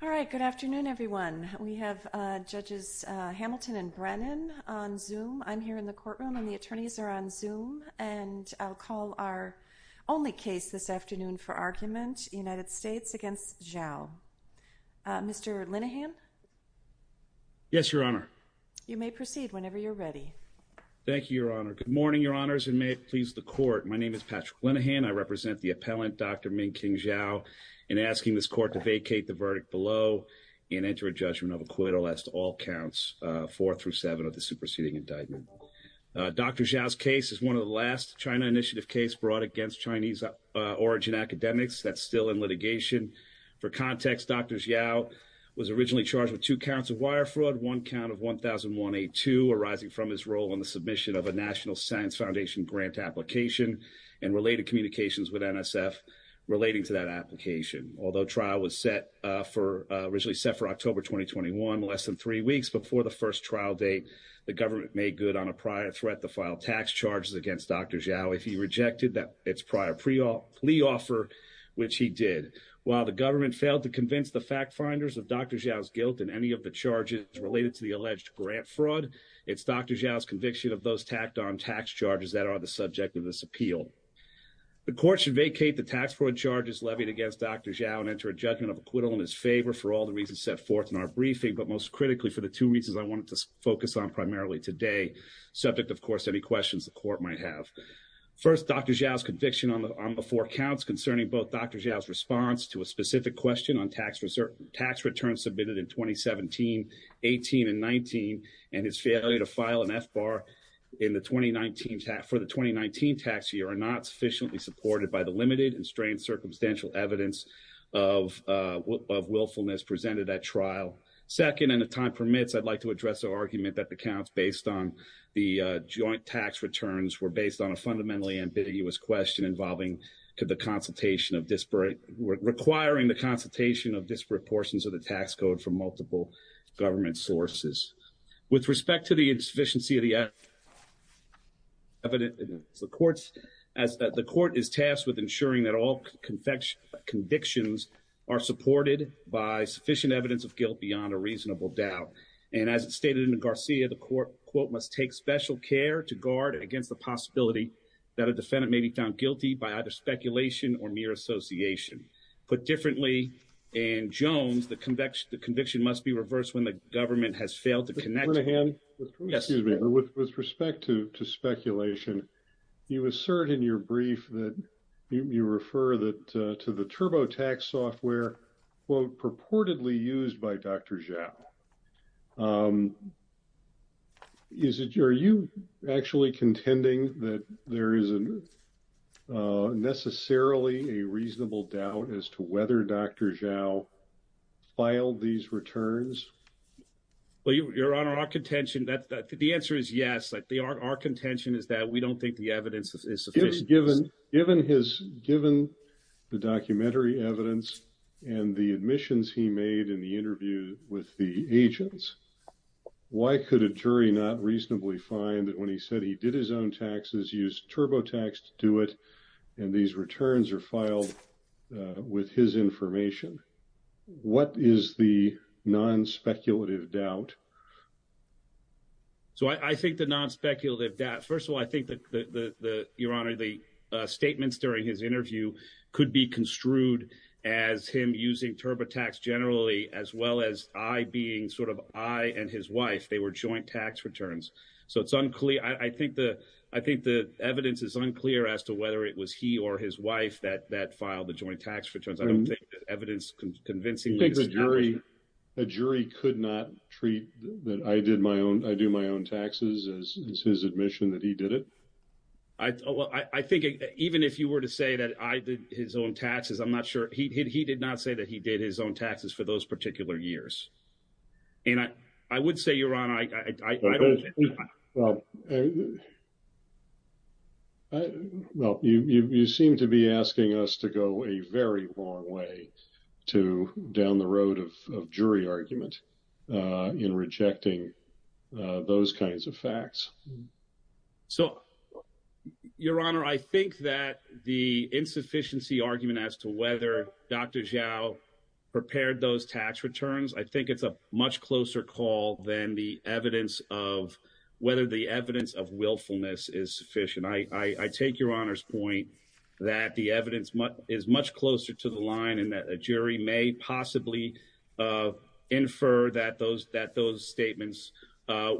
All right, good afternoon everyone. We have Judges Hamilton and Brennan on Zoom. I'm here in the courtroom and the attorneys are on Zoom and I'll call our only case this afternoon for argument, United States v. Zhao. Mr. Linehan. Yes, Your Honor. You may proceed whenever you're ready. Thank you, Your Honor. Good morning, Your Honors, and may it please the court. My name is Patrick Linehan. I am asking this court to vacate the verdict below and enter a judgment of acquittal as to all counts four through seven of the superseding indictment. Dr. Zhao's case is one of the last China Initiative case brought against Chinese origin academics that's still in litigation. For context, Dr. Zhao was originally charged with two counts of wire fraud, one count of 1001A2 arising from his role on the submission of a National Science Foundation grant application and related communications with NSF relating to that application. Although trial was set for, originally set for October 2021, less than three weeks before the first trial date, the government made good on a prior threat to file tax charges against Dr. Zhao if he rejected its prior plea offer, which he did. While the government failed to convince the fact finders of Dr. Zhao's guilt in any of the charges related to the alleged grant fraud, it's Dr. Zhao's conviction of those tacked on tax charges that are the subject of this appeal. The court should vacate the tax fraud charges levied against Dr. Zhao and enter a judgment of acquittal in his favor for all the reasons set forth in our briefing, but most critically for the two reasons I wanted to focus on primarily today, subject of course to any questions the court might have. First, Dr. Zhao's conviction on the four counts concerning both Dr. Zhao's response to a specific question on tax return submitted in 2017, 18, and 19, and his failure to file an FBAR in the 2019, for the 2019 tax year are not sufficiently supported by the limited and strained circumstantial evidence of willfulness presented at trial. Second, and if time permits, I'd like to address the argument that the counts based on the joint tax returns were based on a fundamentally ambiguous question involving the consultation of disparate, requiring the consultation of disparate portions of the tax code from multiple government sources. With respect to the insufficiency of the evidence, the court is tasked with ensuring that all convictions are supported by sufficient evidence of guilt beyond a reasonable doubt, and as it's stated in the Garcia, the court, quote, must take special care to guard against the possibility that a defendant may be found guilty by either speculation or mere association. Put differently, in Jones, the conviction must be reversed when the government has failed to connect. Mr. Cunningham, with respect to speculation, you assert in your brief that you refer to the TurboTax software, quote, purportedly used by Dr. Zhao. Are you actually contending that there isn't necessarily a reasonable doubt as to whether Dr. Zhao filed these returns? Well, Your Honor, our contention, the answer is yes. Our contention is that we don't think the evidence is sufficient. Given the documentary evidence and the admissions he made in the interview with the agents, why could a jury not reasonably find that when he said he did his own taxes, used TurboTax to do it, and these returns are filed with his information? What is the non-speculative doubt? So I think the non-speculative doubt, first of all, I think that, Your Honor, the statements during his interview could be construed as him using TurboTax generally, as well as I being sort of I and his wife. They were joint tax returns. So it's unclear. I think the evidence is unclear as to whether it was he or his wife that filed the joint tax returns. I don't think the evidence convincingly establishes that. A jury could not treat that I do my own taxes as his admission that he did it? I think even if you were to say that I did his own taxes, I'm not sure. He did not say that he did his own taxes for those particular years. And I would say, Your Honor, I don't think. Well, you seem to be asking us to go a very long way to down the road of jury argument in rejecting those kinds of facts. So, Your Honor, I think that the insufficiency argument as to whether Dr. Zhao prepared those tax returns, I think it's a much closer call than the evidence of whether the evidence of willfulness is sufficient. I take Your Honor's point that the evidence is much closer to the line and that a jury may possibly infer that those that those statements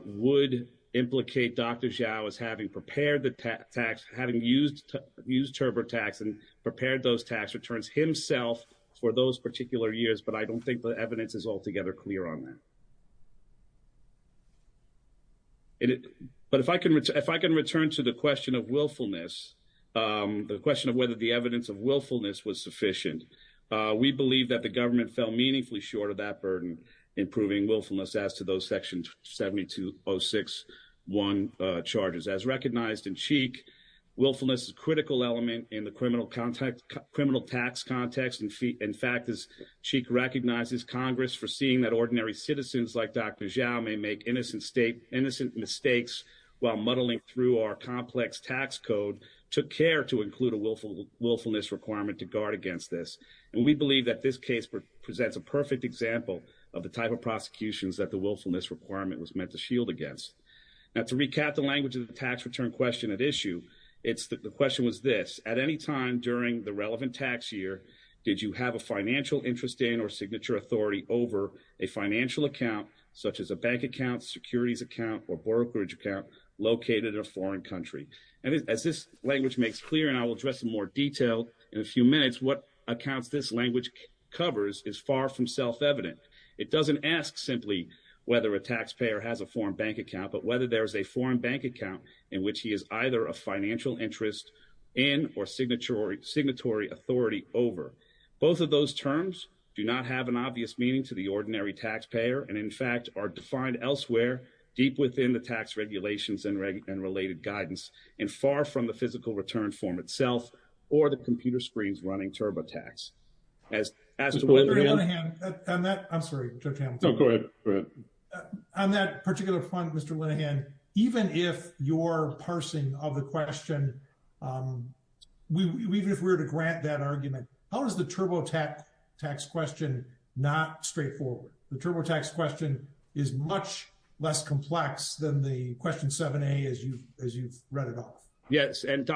would implicate Dr. Zhao as having prepared the tax, having used used TurboTax and prepared those tax returns himself for those particular years. But I don't think the evidence is altogether clear on that. But if I can, if I can return to the question of willfulness, the question of whether the We believe that the government fell meaningfully short of that burden, improving willfulness as to those sections, 72-06-1 charges as recognized in Cheek. Willfulness is a critical element in the criminal context, criminal tax context. In fact, as Cheek recognizes, Congress, foreseeing that ordinary citizens like Dr. Zhao may make innocent state, innocent mistakes while muddling through our complex tax code, took care to And we believe that this case presents a perfect example of the type of prosecutions that the willfulness requirement was meant to shield against. Now, to recap the language of the tax return question at issue, it's the question was this at any time during the relevant tax year, did you have a financial interest in or signature authority over a financial account such as a bank account, securities account or brokerage account located in a foreign country? As this language makes clear, and I will address in more detail in a few minutes, what accounts this language covers is far from self-evident. It doesn't ask simply whether a taxpayer has a foreign bank account, but whether there is a foreign bank account in which he is either a financial interest in or signatory authority over. Both of those terms do not have an obvious meaning to the ordinary taxpayer and in fact are defined elsewhere deep within the tax regulations and regulated guidance and far from the physical return form itself or the computer screens running TurboTax. As as I'm sorry to go ahead on that particular point, Mr. Linehan, even if you're parsing of the question, even if we were to grant that argument, how is the TurboTax tax question not straightforward? The TurboTax question is much less complex than the question 7A as you as you've read it off. Yes. And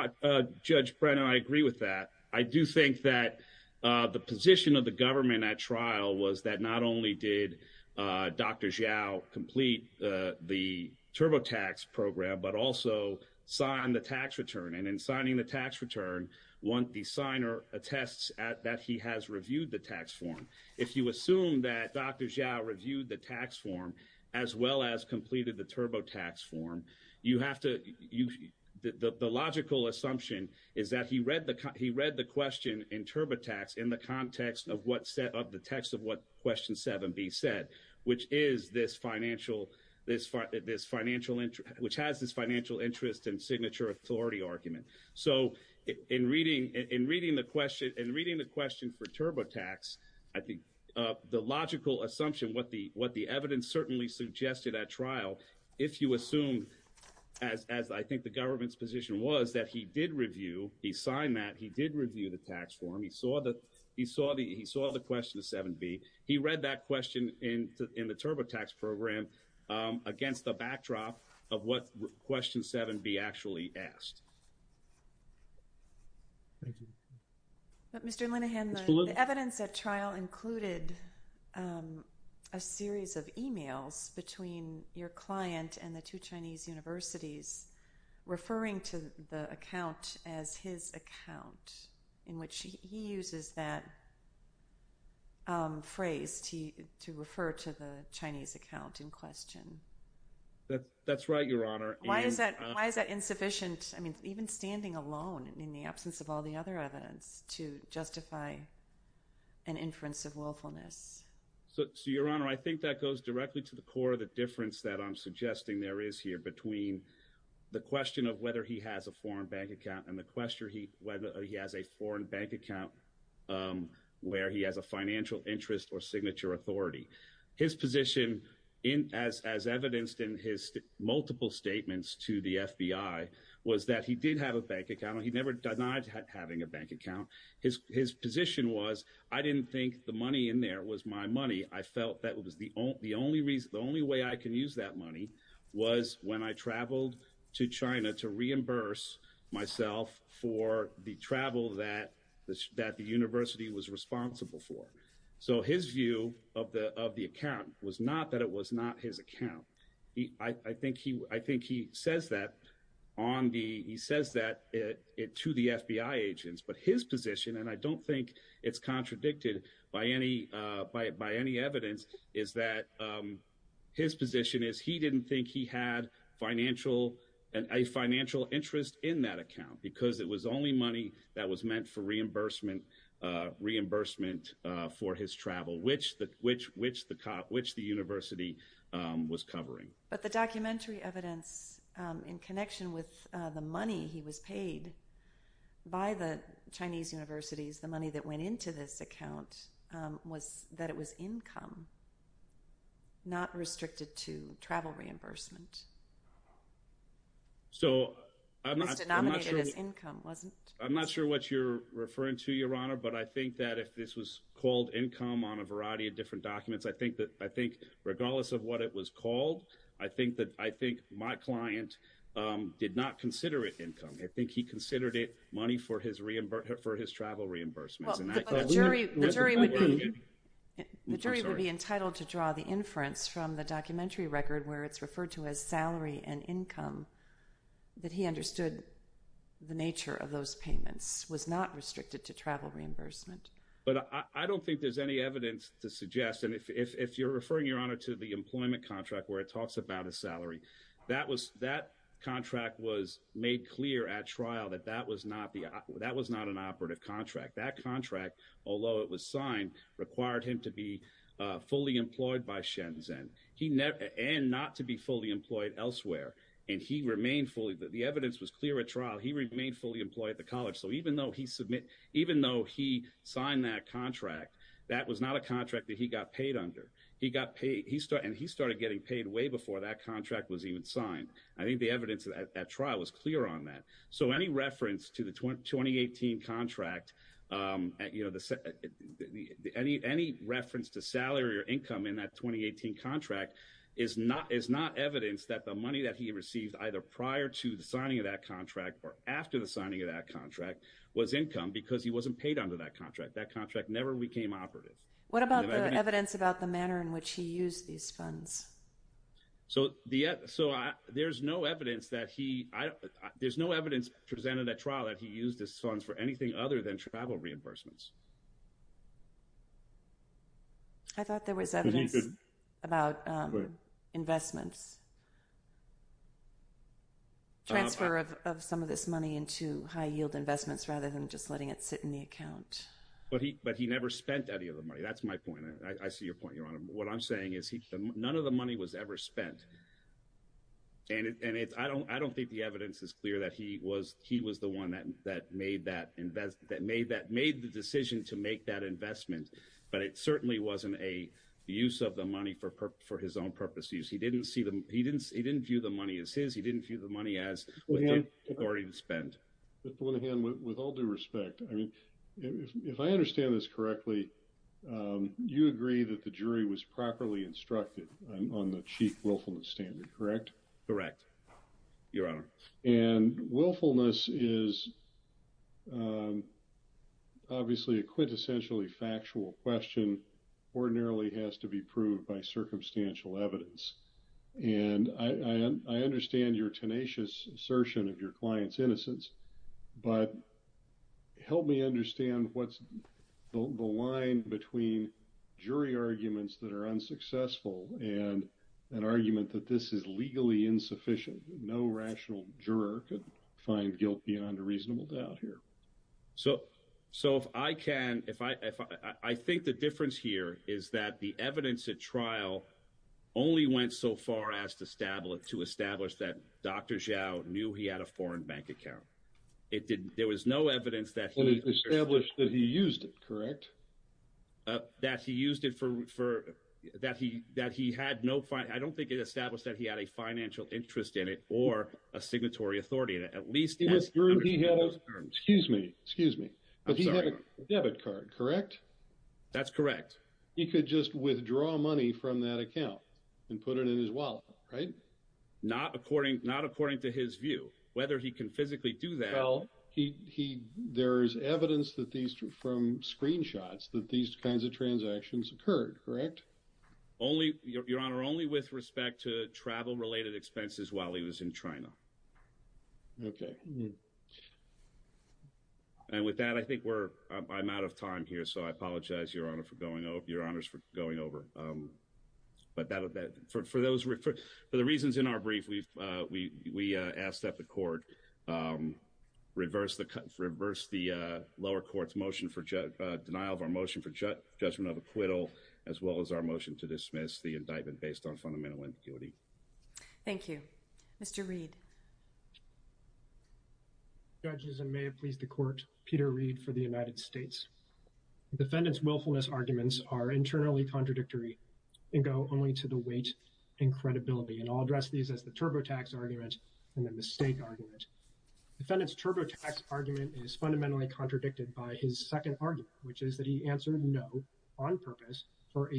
Judge Brennan, I agree with that. I do think that the position of the government at trial was that not only did Dr. Xiao complete the TurboTax program, but also signed the tax return and in signing the tax return, one, the signer attests that he has reviewed the tax form. If you assume that Dr. Xiao reviewed the tax form as well as completed the TurboTax form, you have to use the logical assumption is that he read the he read the question in TurboTax in the context of what set up the text of what question 7B said, which is this financial this this financial interest which has this financial interest and signature authority argument. So in reading in reading the question and reading the question for TurboTax, I think the logical assumption what the what the evidence certainly suggested at trial, if you assume as as I think the government's position was that he did review, he signed that he did review the tax form. He saw that he saw the he saw the question 7B. He read that question in the TurboTax program against the backdrop of what question 7B actually asked. Mr. Linehan, the evidence at trial included a series of emails between your client and the two Chinese universities referring to the account as his account in which he uses that phrase to to refer to the Chinese account in question. That's right, Your Honor. Why is that? Why is that insufficient? I mean, even standing alone in the absence of all the other evidence to justify an inference of willfulness. So, Your Honor, I think that goes directly to the core of the difference that I'm suggesting there is here between the question of whether he has a foreign bank account and the question whether he has a foreign bank account where he has a financial interest or signature authority. His position in as as evidenced in his multiple statements to the FBI was that he did have a bank account. He never denied having a bank account. His his position was I didn't think the money in there was my money. I felt that was the only the only reason the only way I can use that money was when I traveled to China to reimburse myself for the travel that that the university was responsible for. So his view of the of the account was not that it was not his account. I think he I think he says that on the he says that it to the FBI agents. But his position and I don't think it's contradicted by any by by any evidence is that his position is he didn't think he had financial and a financial interest in that account because it was only money that was meant for reimbursement reimbursement for his travel which that which which the cop which the university was covering. But the documentary evidence in connection with the money he was paid by the Chinese universities the money that went into this account was that it was income. Not restricted to travel reimbursement. So I'm not sure this income wasn't I'm not sure what you're referring to your honor but I think that if this was called income on a variety of different documents I think that I think regardless of what it was called I think that I think my client did not consider it income. I think he considered it money for his reimbursement for his travel reimbursement. And I thought the jury would be the jury would be entitled to draw the inference from the documentary record where it's salary and income that he understood the nature of those payments was not restricted to travel reimbursement. But I don't think there's any evidence to suggest and if you're referring your honor to the employment contract where it talks about a salary that was that contract was made clear at trial that that was not the that was not an operative contract that contract although it was signed required him to be fully employed by sheds and he never and not to be fully employed elsewhere and he remained fully that the evidence was clear at trial he remained fully employed at the college. So even though he submit even though he signed that contract that was not a contract that he got paid under he got paid he started and he started getting paid way before that contract was even signed. I think the evidence at trial was clear on that. So any reference to the 20 2018 contract you know the any any reference to salary or income in that 2018 contract is not is not evidence that the money that he received either prior to the signing of that contract or after the signing of that contract was income because he wasn't paid under that contract that contract never became operative. What about the evidence about the manner in which he used these funds. So the so there's no evidence that he there's no evidence presented at trial that he used his funds for anything other than travel reimbursements. I thought there was evidence about investments transfer of some of this money into high yield investments rather than just letting it sit in the account. But he but he never spent any of the money. That's my point. I see your point your honor. What I'm saying is he said none of the money was ever spent and it's I don't I don't think the evidence is clear that he was he was the one that that made that investment that made that made the decision to make that investment. But it certainly wasn't a use of the money for for his own purposes. He didn't see them. He didn't he didn't view the money as his. He didn't view the money as an authority to spend with all due respect. I mean if I understand this correctly you agree that the jury was properly instructed on the chief willfulness standard. Correct. Correct. Your honor and willfulness is obviously a quintessentially factual question ordinarily has to be proved by circumstantial evidence. And I understand your tenacious assertion of your client's innocence but help me understand what's the line between jury arguments that are no rational juror could find guilt beyond a reasonable doubt here. So so if I can if I if I think the difference here is that the evidence at trial only went so far as to establish to establish that Dr. Zhao knew he had a foreign bank account. It did. There was no evidence that he established that he used it correct that he used it for that he that he had no fight. I don't think it established that he had a financial interest in it or a signatory authority at least. It was true. He had those terms. Excuse me. Excuse me. But he had a debit card. Correct. That's correct. He could just withdraw money from that account and put it in his wallet. Right. Not according not according to his view whether he can physically do that. Well he he there is evidence that these two from screenshots that these kinds of transactions occurred. Correct. Only your honor only with respect to travel related expenses while he was in China. OK. And with that I think we're I'm out of time here so I apologize your honor for going over your honors for going over. But that for those for the reasons in our brief we've we asked that the court reverse the cut reverse the lower court's motion for motion to dismiss the indictment based on fundamental ambiguity. Thank you Mr. Reid judges and may it please the court. Peter Reid for the United States. Defendants willfulness arguments are internally contradictory and go only to the weight and credibility and I'll address these as the turbo tax argument and the mistake argument defendants turbo tax argument is fundamentally contradicted by his second argument which is that he had no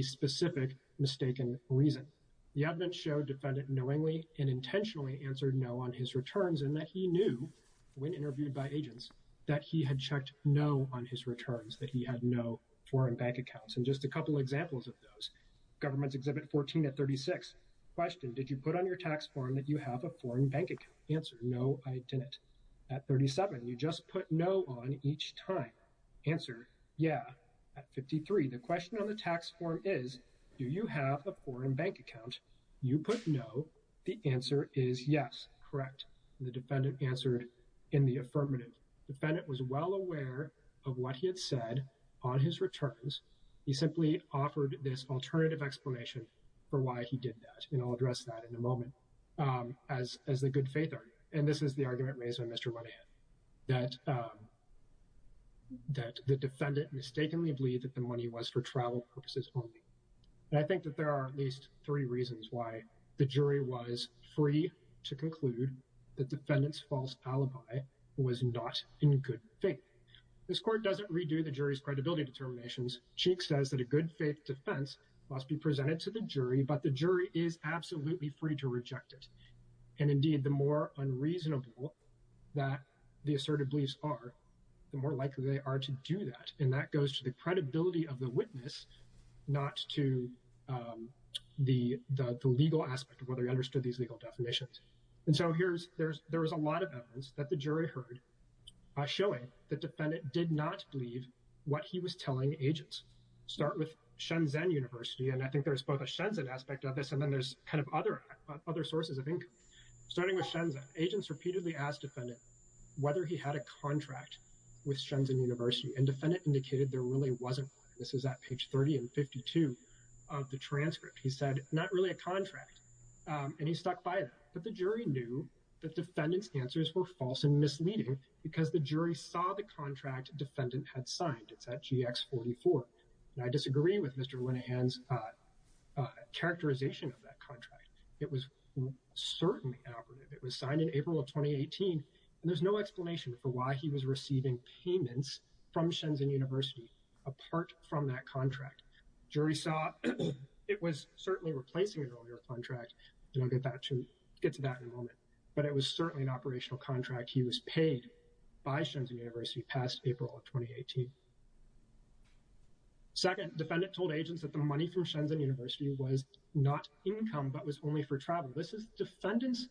specific mistaken reason the evidence showed defendant knowingly and intentionally answered no on his returns and that he knew when interviewed by agents that he had checked no on his returns that he had no foreign bank accounts and just a couple examples of those government's exhibit 14 at 36 question did you put on your tax form that you have a foreign bank answer. No I didn't. At 37 you just put no on each time answer. Yeah. At 53 the question on the tax form is do you have a foreign bank account. You put no. The answer is yes. Correct. The defendant answered in the affirmative. The defendant was well aware of what he had said on his returns. He simply offered this alternative explanation for why he did that. And I'll address that in a moment as as a good faith. And this is the argument raised by Mr. Money that that the defendant mistakenly believed that the money was for travel purposes only. I think that there are at least three reasons why the jury was free to conclude the defendant's false alibi was not in good faith. This court doesn't redo the jury's credibility determinations. Cheek says that a good faith defense must be presented to the jury. But the jury is absolutely free to reject it. And indeed the more unreasonable that the asserted beliefs are the more likely they are to do that. And that goes to the credibility of the witness not to the the legal aspect of whether you understood these legal definitions. And so here's there's there is a lot of evidence that the jury heard showing the defendant did not believe what he was telling agents. Start with Shenzhen University. And I think there's both a Shenzhen aspect of this and then there's kind of other other sources of income starting with Shenzhen. Agents repeatedly asked defendant whether he had a contract with Shenzhen University and defendant indicated there really wasn't. This is at page 30 and 52 of the transcript. He said not really a contract and he was shocked by that. But the jury knew that defendant's answers were false and misleading because the jury saw the contract defendant had signed. It's at GX 44. And I disagree with Mr. Winnihan's characterization of that contract. It was certainly operative. It was signed in April of 2018. And there's no explanation for why he was receiving payments from Shenzhen University apart from that contract. Jury saw it was certainly replacing an earlier contract. We'll get to that in a moment. But it was certainly an operational contract. He was paid by Shenzhen University past April of 2018. Second defendant told agents that the money from Shenzhen University was not income but was only for travel. This is defendant's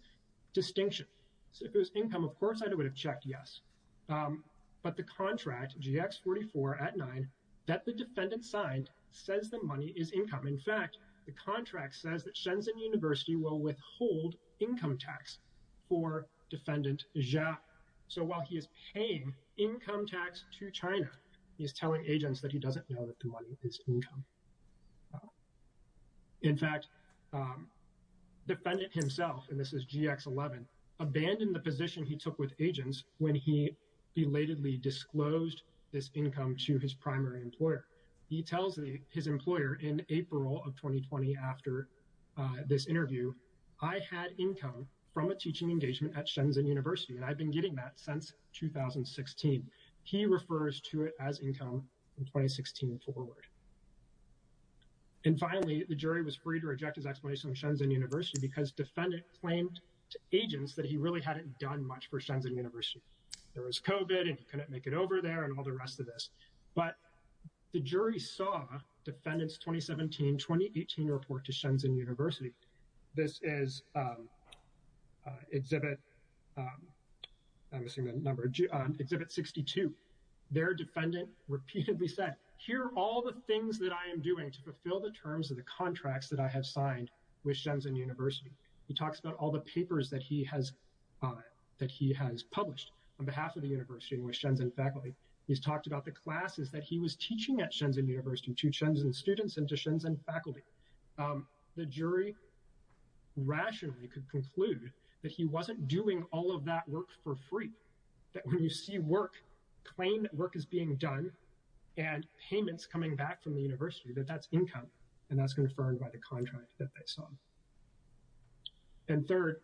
distinction. So if it was income of course I would have checked yes. But the contract GX 44 at 9 that the defendant signed says the contract says that Shenzhen University will withhold income tax for defendant. So while he is paying income tax to China he is telling agents that he doesn't know that the money is income. In fact defendant himself and this is GX 11 abandoned the position he took with agents when he belatedly disclosed this income to his primary employer. He tells me his employer in April of 2020 after this interview I had income from a teaching engagement at Shenzhen University and I've been getting that since 2016. He refers to it as income in 2016 forward. And finally the jury was free to reject his explanation of Shenzhen University because defendant claimed to agents that he really hadn't done much for Shenzhen University. There was COVID and couldn't make it over there and all the rest of this. But the jury saw defendants 2017 2018 report to doing to fulfill the terms of the contracts that I have signed with Shenzhen University. He talks about all the papers that he has that he has published on behalf of the university and with Shenzhen faculty. He's talked about the classes that he was teaching at Shenzhen University to Shenzhen students and to Shenzhen faculty. The jury rationally could conclude that he wasn't doing all of that work for free. That when you see work claim work is being done and payments coming back from the university that that's income and that's confirmed by the contract that they saw. And third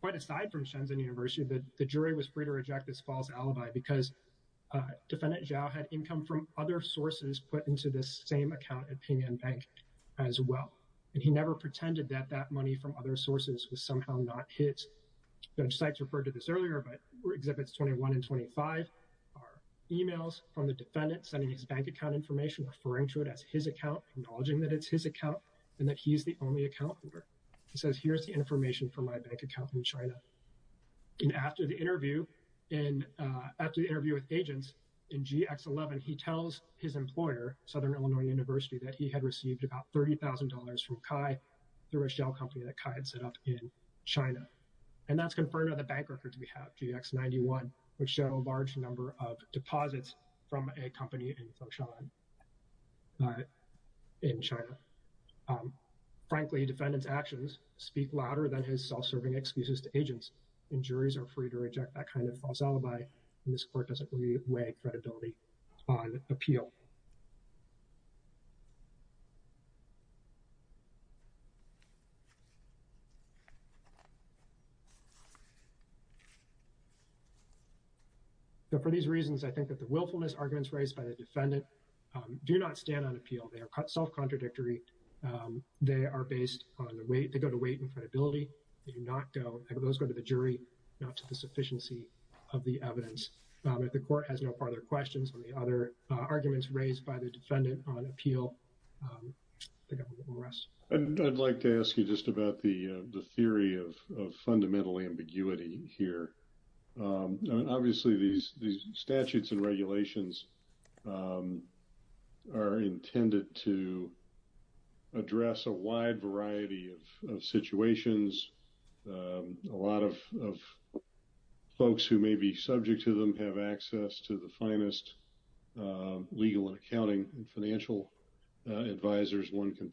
quite aside from Shenzhen University that the jury was free to reject this false alibi because defendant Zhao had income from other sources put into this same account at Ping An Bank as well. And he never pretended that that money from other sources was somehow not hit. Such sites referred to this earlier but exhibits 21 and 25 are emails from the defendant sending his bank account information referring to it as his account acknowledging that it's his account and that he's the only account holder. He says here's the information from my bank account in China. And after the interview and after the interview with agents in GX 11 he tells his employer Southern Illinois University that he had received about $30,000 from Chi through a shell company that Chi had set up in China. And that's confirmed by the bank records we have GX 91 which show a large number of deposits from a company in Foshan In China. Frankly defendants actions speak louder than his self serving excuses to agents and juries are free to reject that kind of false alibi in this court doesn't weigh credibility on appeal. But for these reasons I think that the willfulness arguments raised by the defendant do not stand on appeal. They are self contradictory. They are based on the way to go to wait and credibility. Do not go to the jury not to the sufficiency of the evidence. The court has no further questions on the other arguments raised by the defendant on appeal. And I'd like to ask you just about the theory of fundamental ambiguity here. Obviously these statutes and regulations Are intended to Address a wide variety of situations. A lot of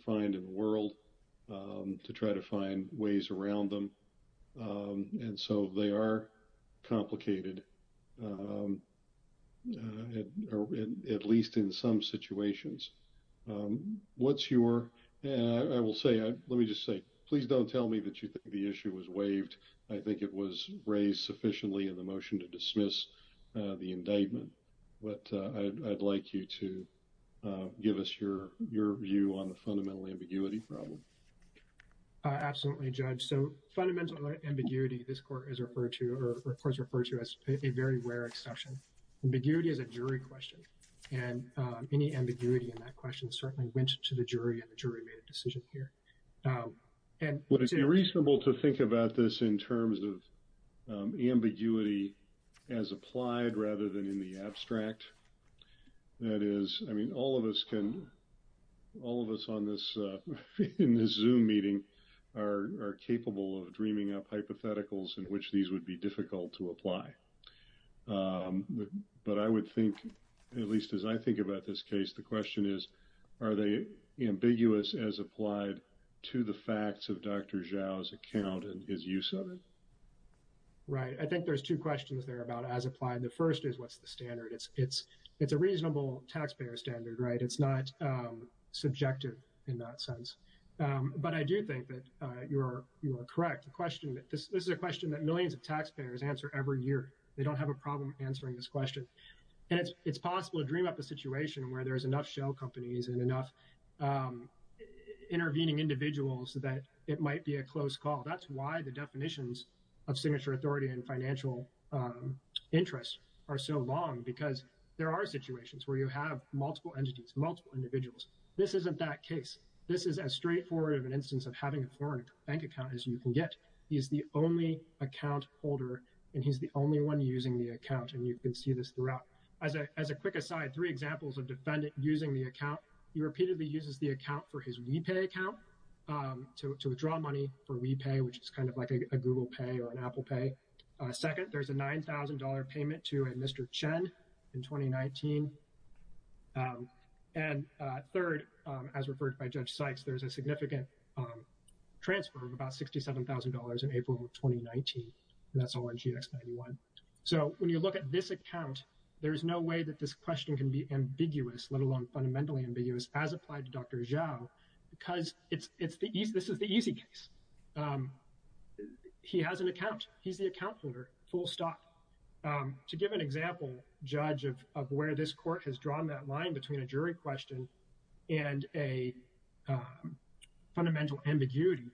Find in the world to try to find ways around them. And so they are complicated. At least in some situations. What's your, I will say, let me just say, please don't tell me that you think the issue was waived. I think it was raised sufficiently in the motion to dismiss the indictment, but I'd like you to give us your, your view on the fundamental ambiguity problem. Absolutely, Judge. So fundamental ambiguity, this court is referred to, or of course referred to as a very rare exception. Ambiguity is a jury question. And any ambiguity in that question certainly went to the jury and the jury made a decision here. And would it be reasonable to think about this in terms of ambiguity as applied rather than in the abstract. That is, I mean, all of us can all of us on this in the zoom meeting are capable of dreaming up hypotheticals in which these would be difficult to apply. But I would think, at least as I think about this case. The question is, are they ambiguous as applied to the facts of Dr. Zhao's account and his use of it. Right. I think there's two questions there about as applied. The first is what's the standard. It's it's it's a reasonable taxpayer standard. Right. It's not subjective in that sense. But I do think that you are correct. The question that this is a question that millions of taxpayers answer every year. They don't have a problem answering this question. And it's possible to dream up a situation where there is enough shell companies and enough intervening individuals that it might be a close call. That's why the definitions of signature authority and financial interest are so long because there are situations where you have multiple entities, multiple individuals. This isn't that case. This is as straightforward of an instance of having a foreign bank account as you can get. He's the only account holder and he's the only one using the account. And you can see this throughout. As a quick aside, three examples of defendant using the account. He repeatedly uses the account for his we pay account to withdraw money for we pay, which is kind of like a Google pay or an Apple pay. Second, there's a nine thousand dollar payment to a Mr. Chen in 2019. And third, as referred by Judge Sykes, there's a significant transfer of about sixty seven thousand dollars in April of 2019. That's all in GX91. So when you look at this account, there is no way that this question can be ambiguous, let alone fundamentally ambiguous as applied to Dr. Zhao because it's it's the this is the easy case. He has an account. He's the account holder. Full stop. To give an example, Judge, of where this court has drawn that line between a jury question and a fundamental ambiguity,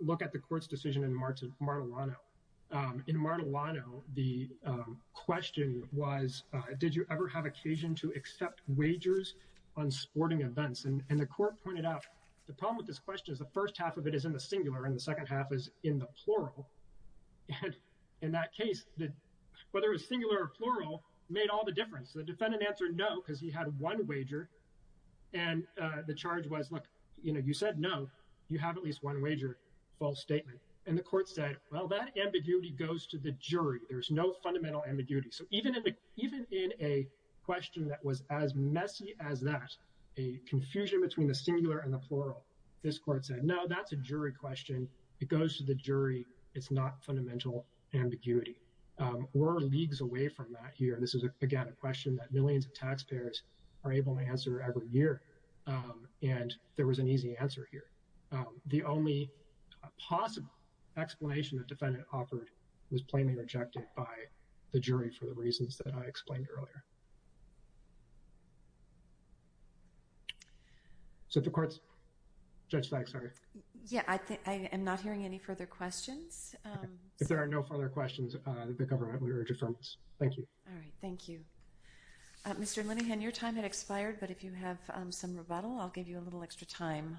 look at the court's decision in Martellano. In Martellano, the question was, did you ever have occasion to accept wagers on sporting events? And the court pointed out, the problem with this question is the first half of it is in the singular and the second half is in the plural. And in that case, whether it's singular or plural made all the difference. The defendant answered no because he had one wager and the charge was, look, you know, you said no, you have at least one wager, false statement. And the court said, well, that ambiguity goes to the jury. There's no fundamental ambiguity. So even even in a question that was as messy as that, a confusion between the singular and the plural, this court said, no, that's a jury question. It goes to the jury. It's not fundamental ambiguity. We're leagues away from that here. This is, again, a question that millions of taxpayers are able to answer every year. And there was an easy answer here. The only possible explanation the defendant offered was plainly rejected by the jury for the reasons that I explained earlier. So the courts, Judge Fagg, sorry. Yeah, I think I am not hearing any further questions. If there are no further questions, the government would urge a firmness. Thank you. All right. Thank you, Mr. Linehan. Your time had expired. But if you have some rebuttal, I'll give you a little extra time.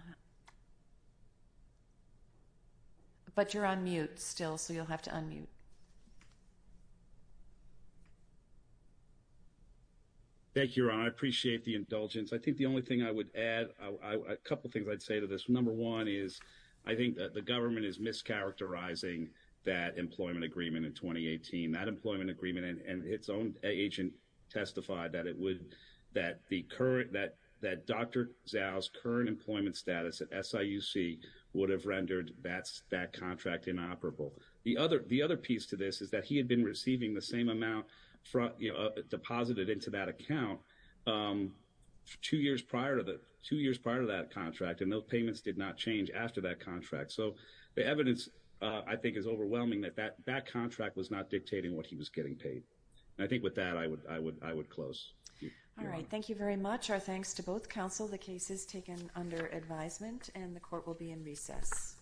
But you're on mute still, so you'll have to unmute. Thank you. I appreciate the indulgence. I think the only thing I would add, a couple of things I'd say to this. Number one is I think that the government is mischaracterizing that employment agreement in 2018, that employment agreement and its own agent testified that it would that the current that that Dr. Zhao's current employment status at SIUC would have rendered that's that contract inoperable. The other the other piece to this is that he had been receiving the same amount deposited into that account two years prior to the two years prior to that contract. And those payments did not change after that contract. So the evidence, I think, is overwhelming that that that contract was not dictating what he was getting paid. And I think with that, I would I would I would close. All right. Thank you very much. Our thanks to both counsel. The case is taken under advisement and the court will be in recess.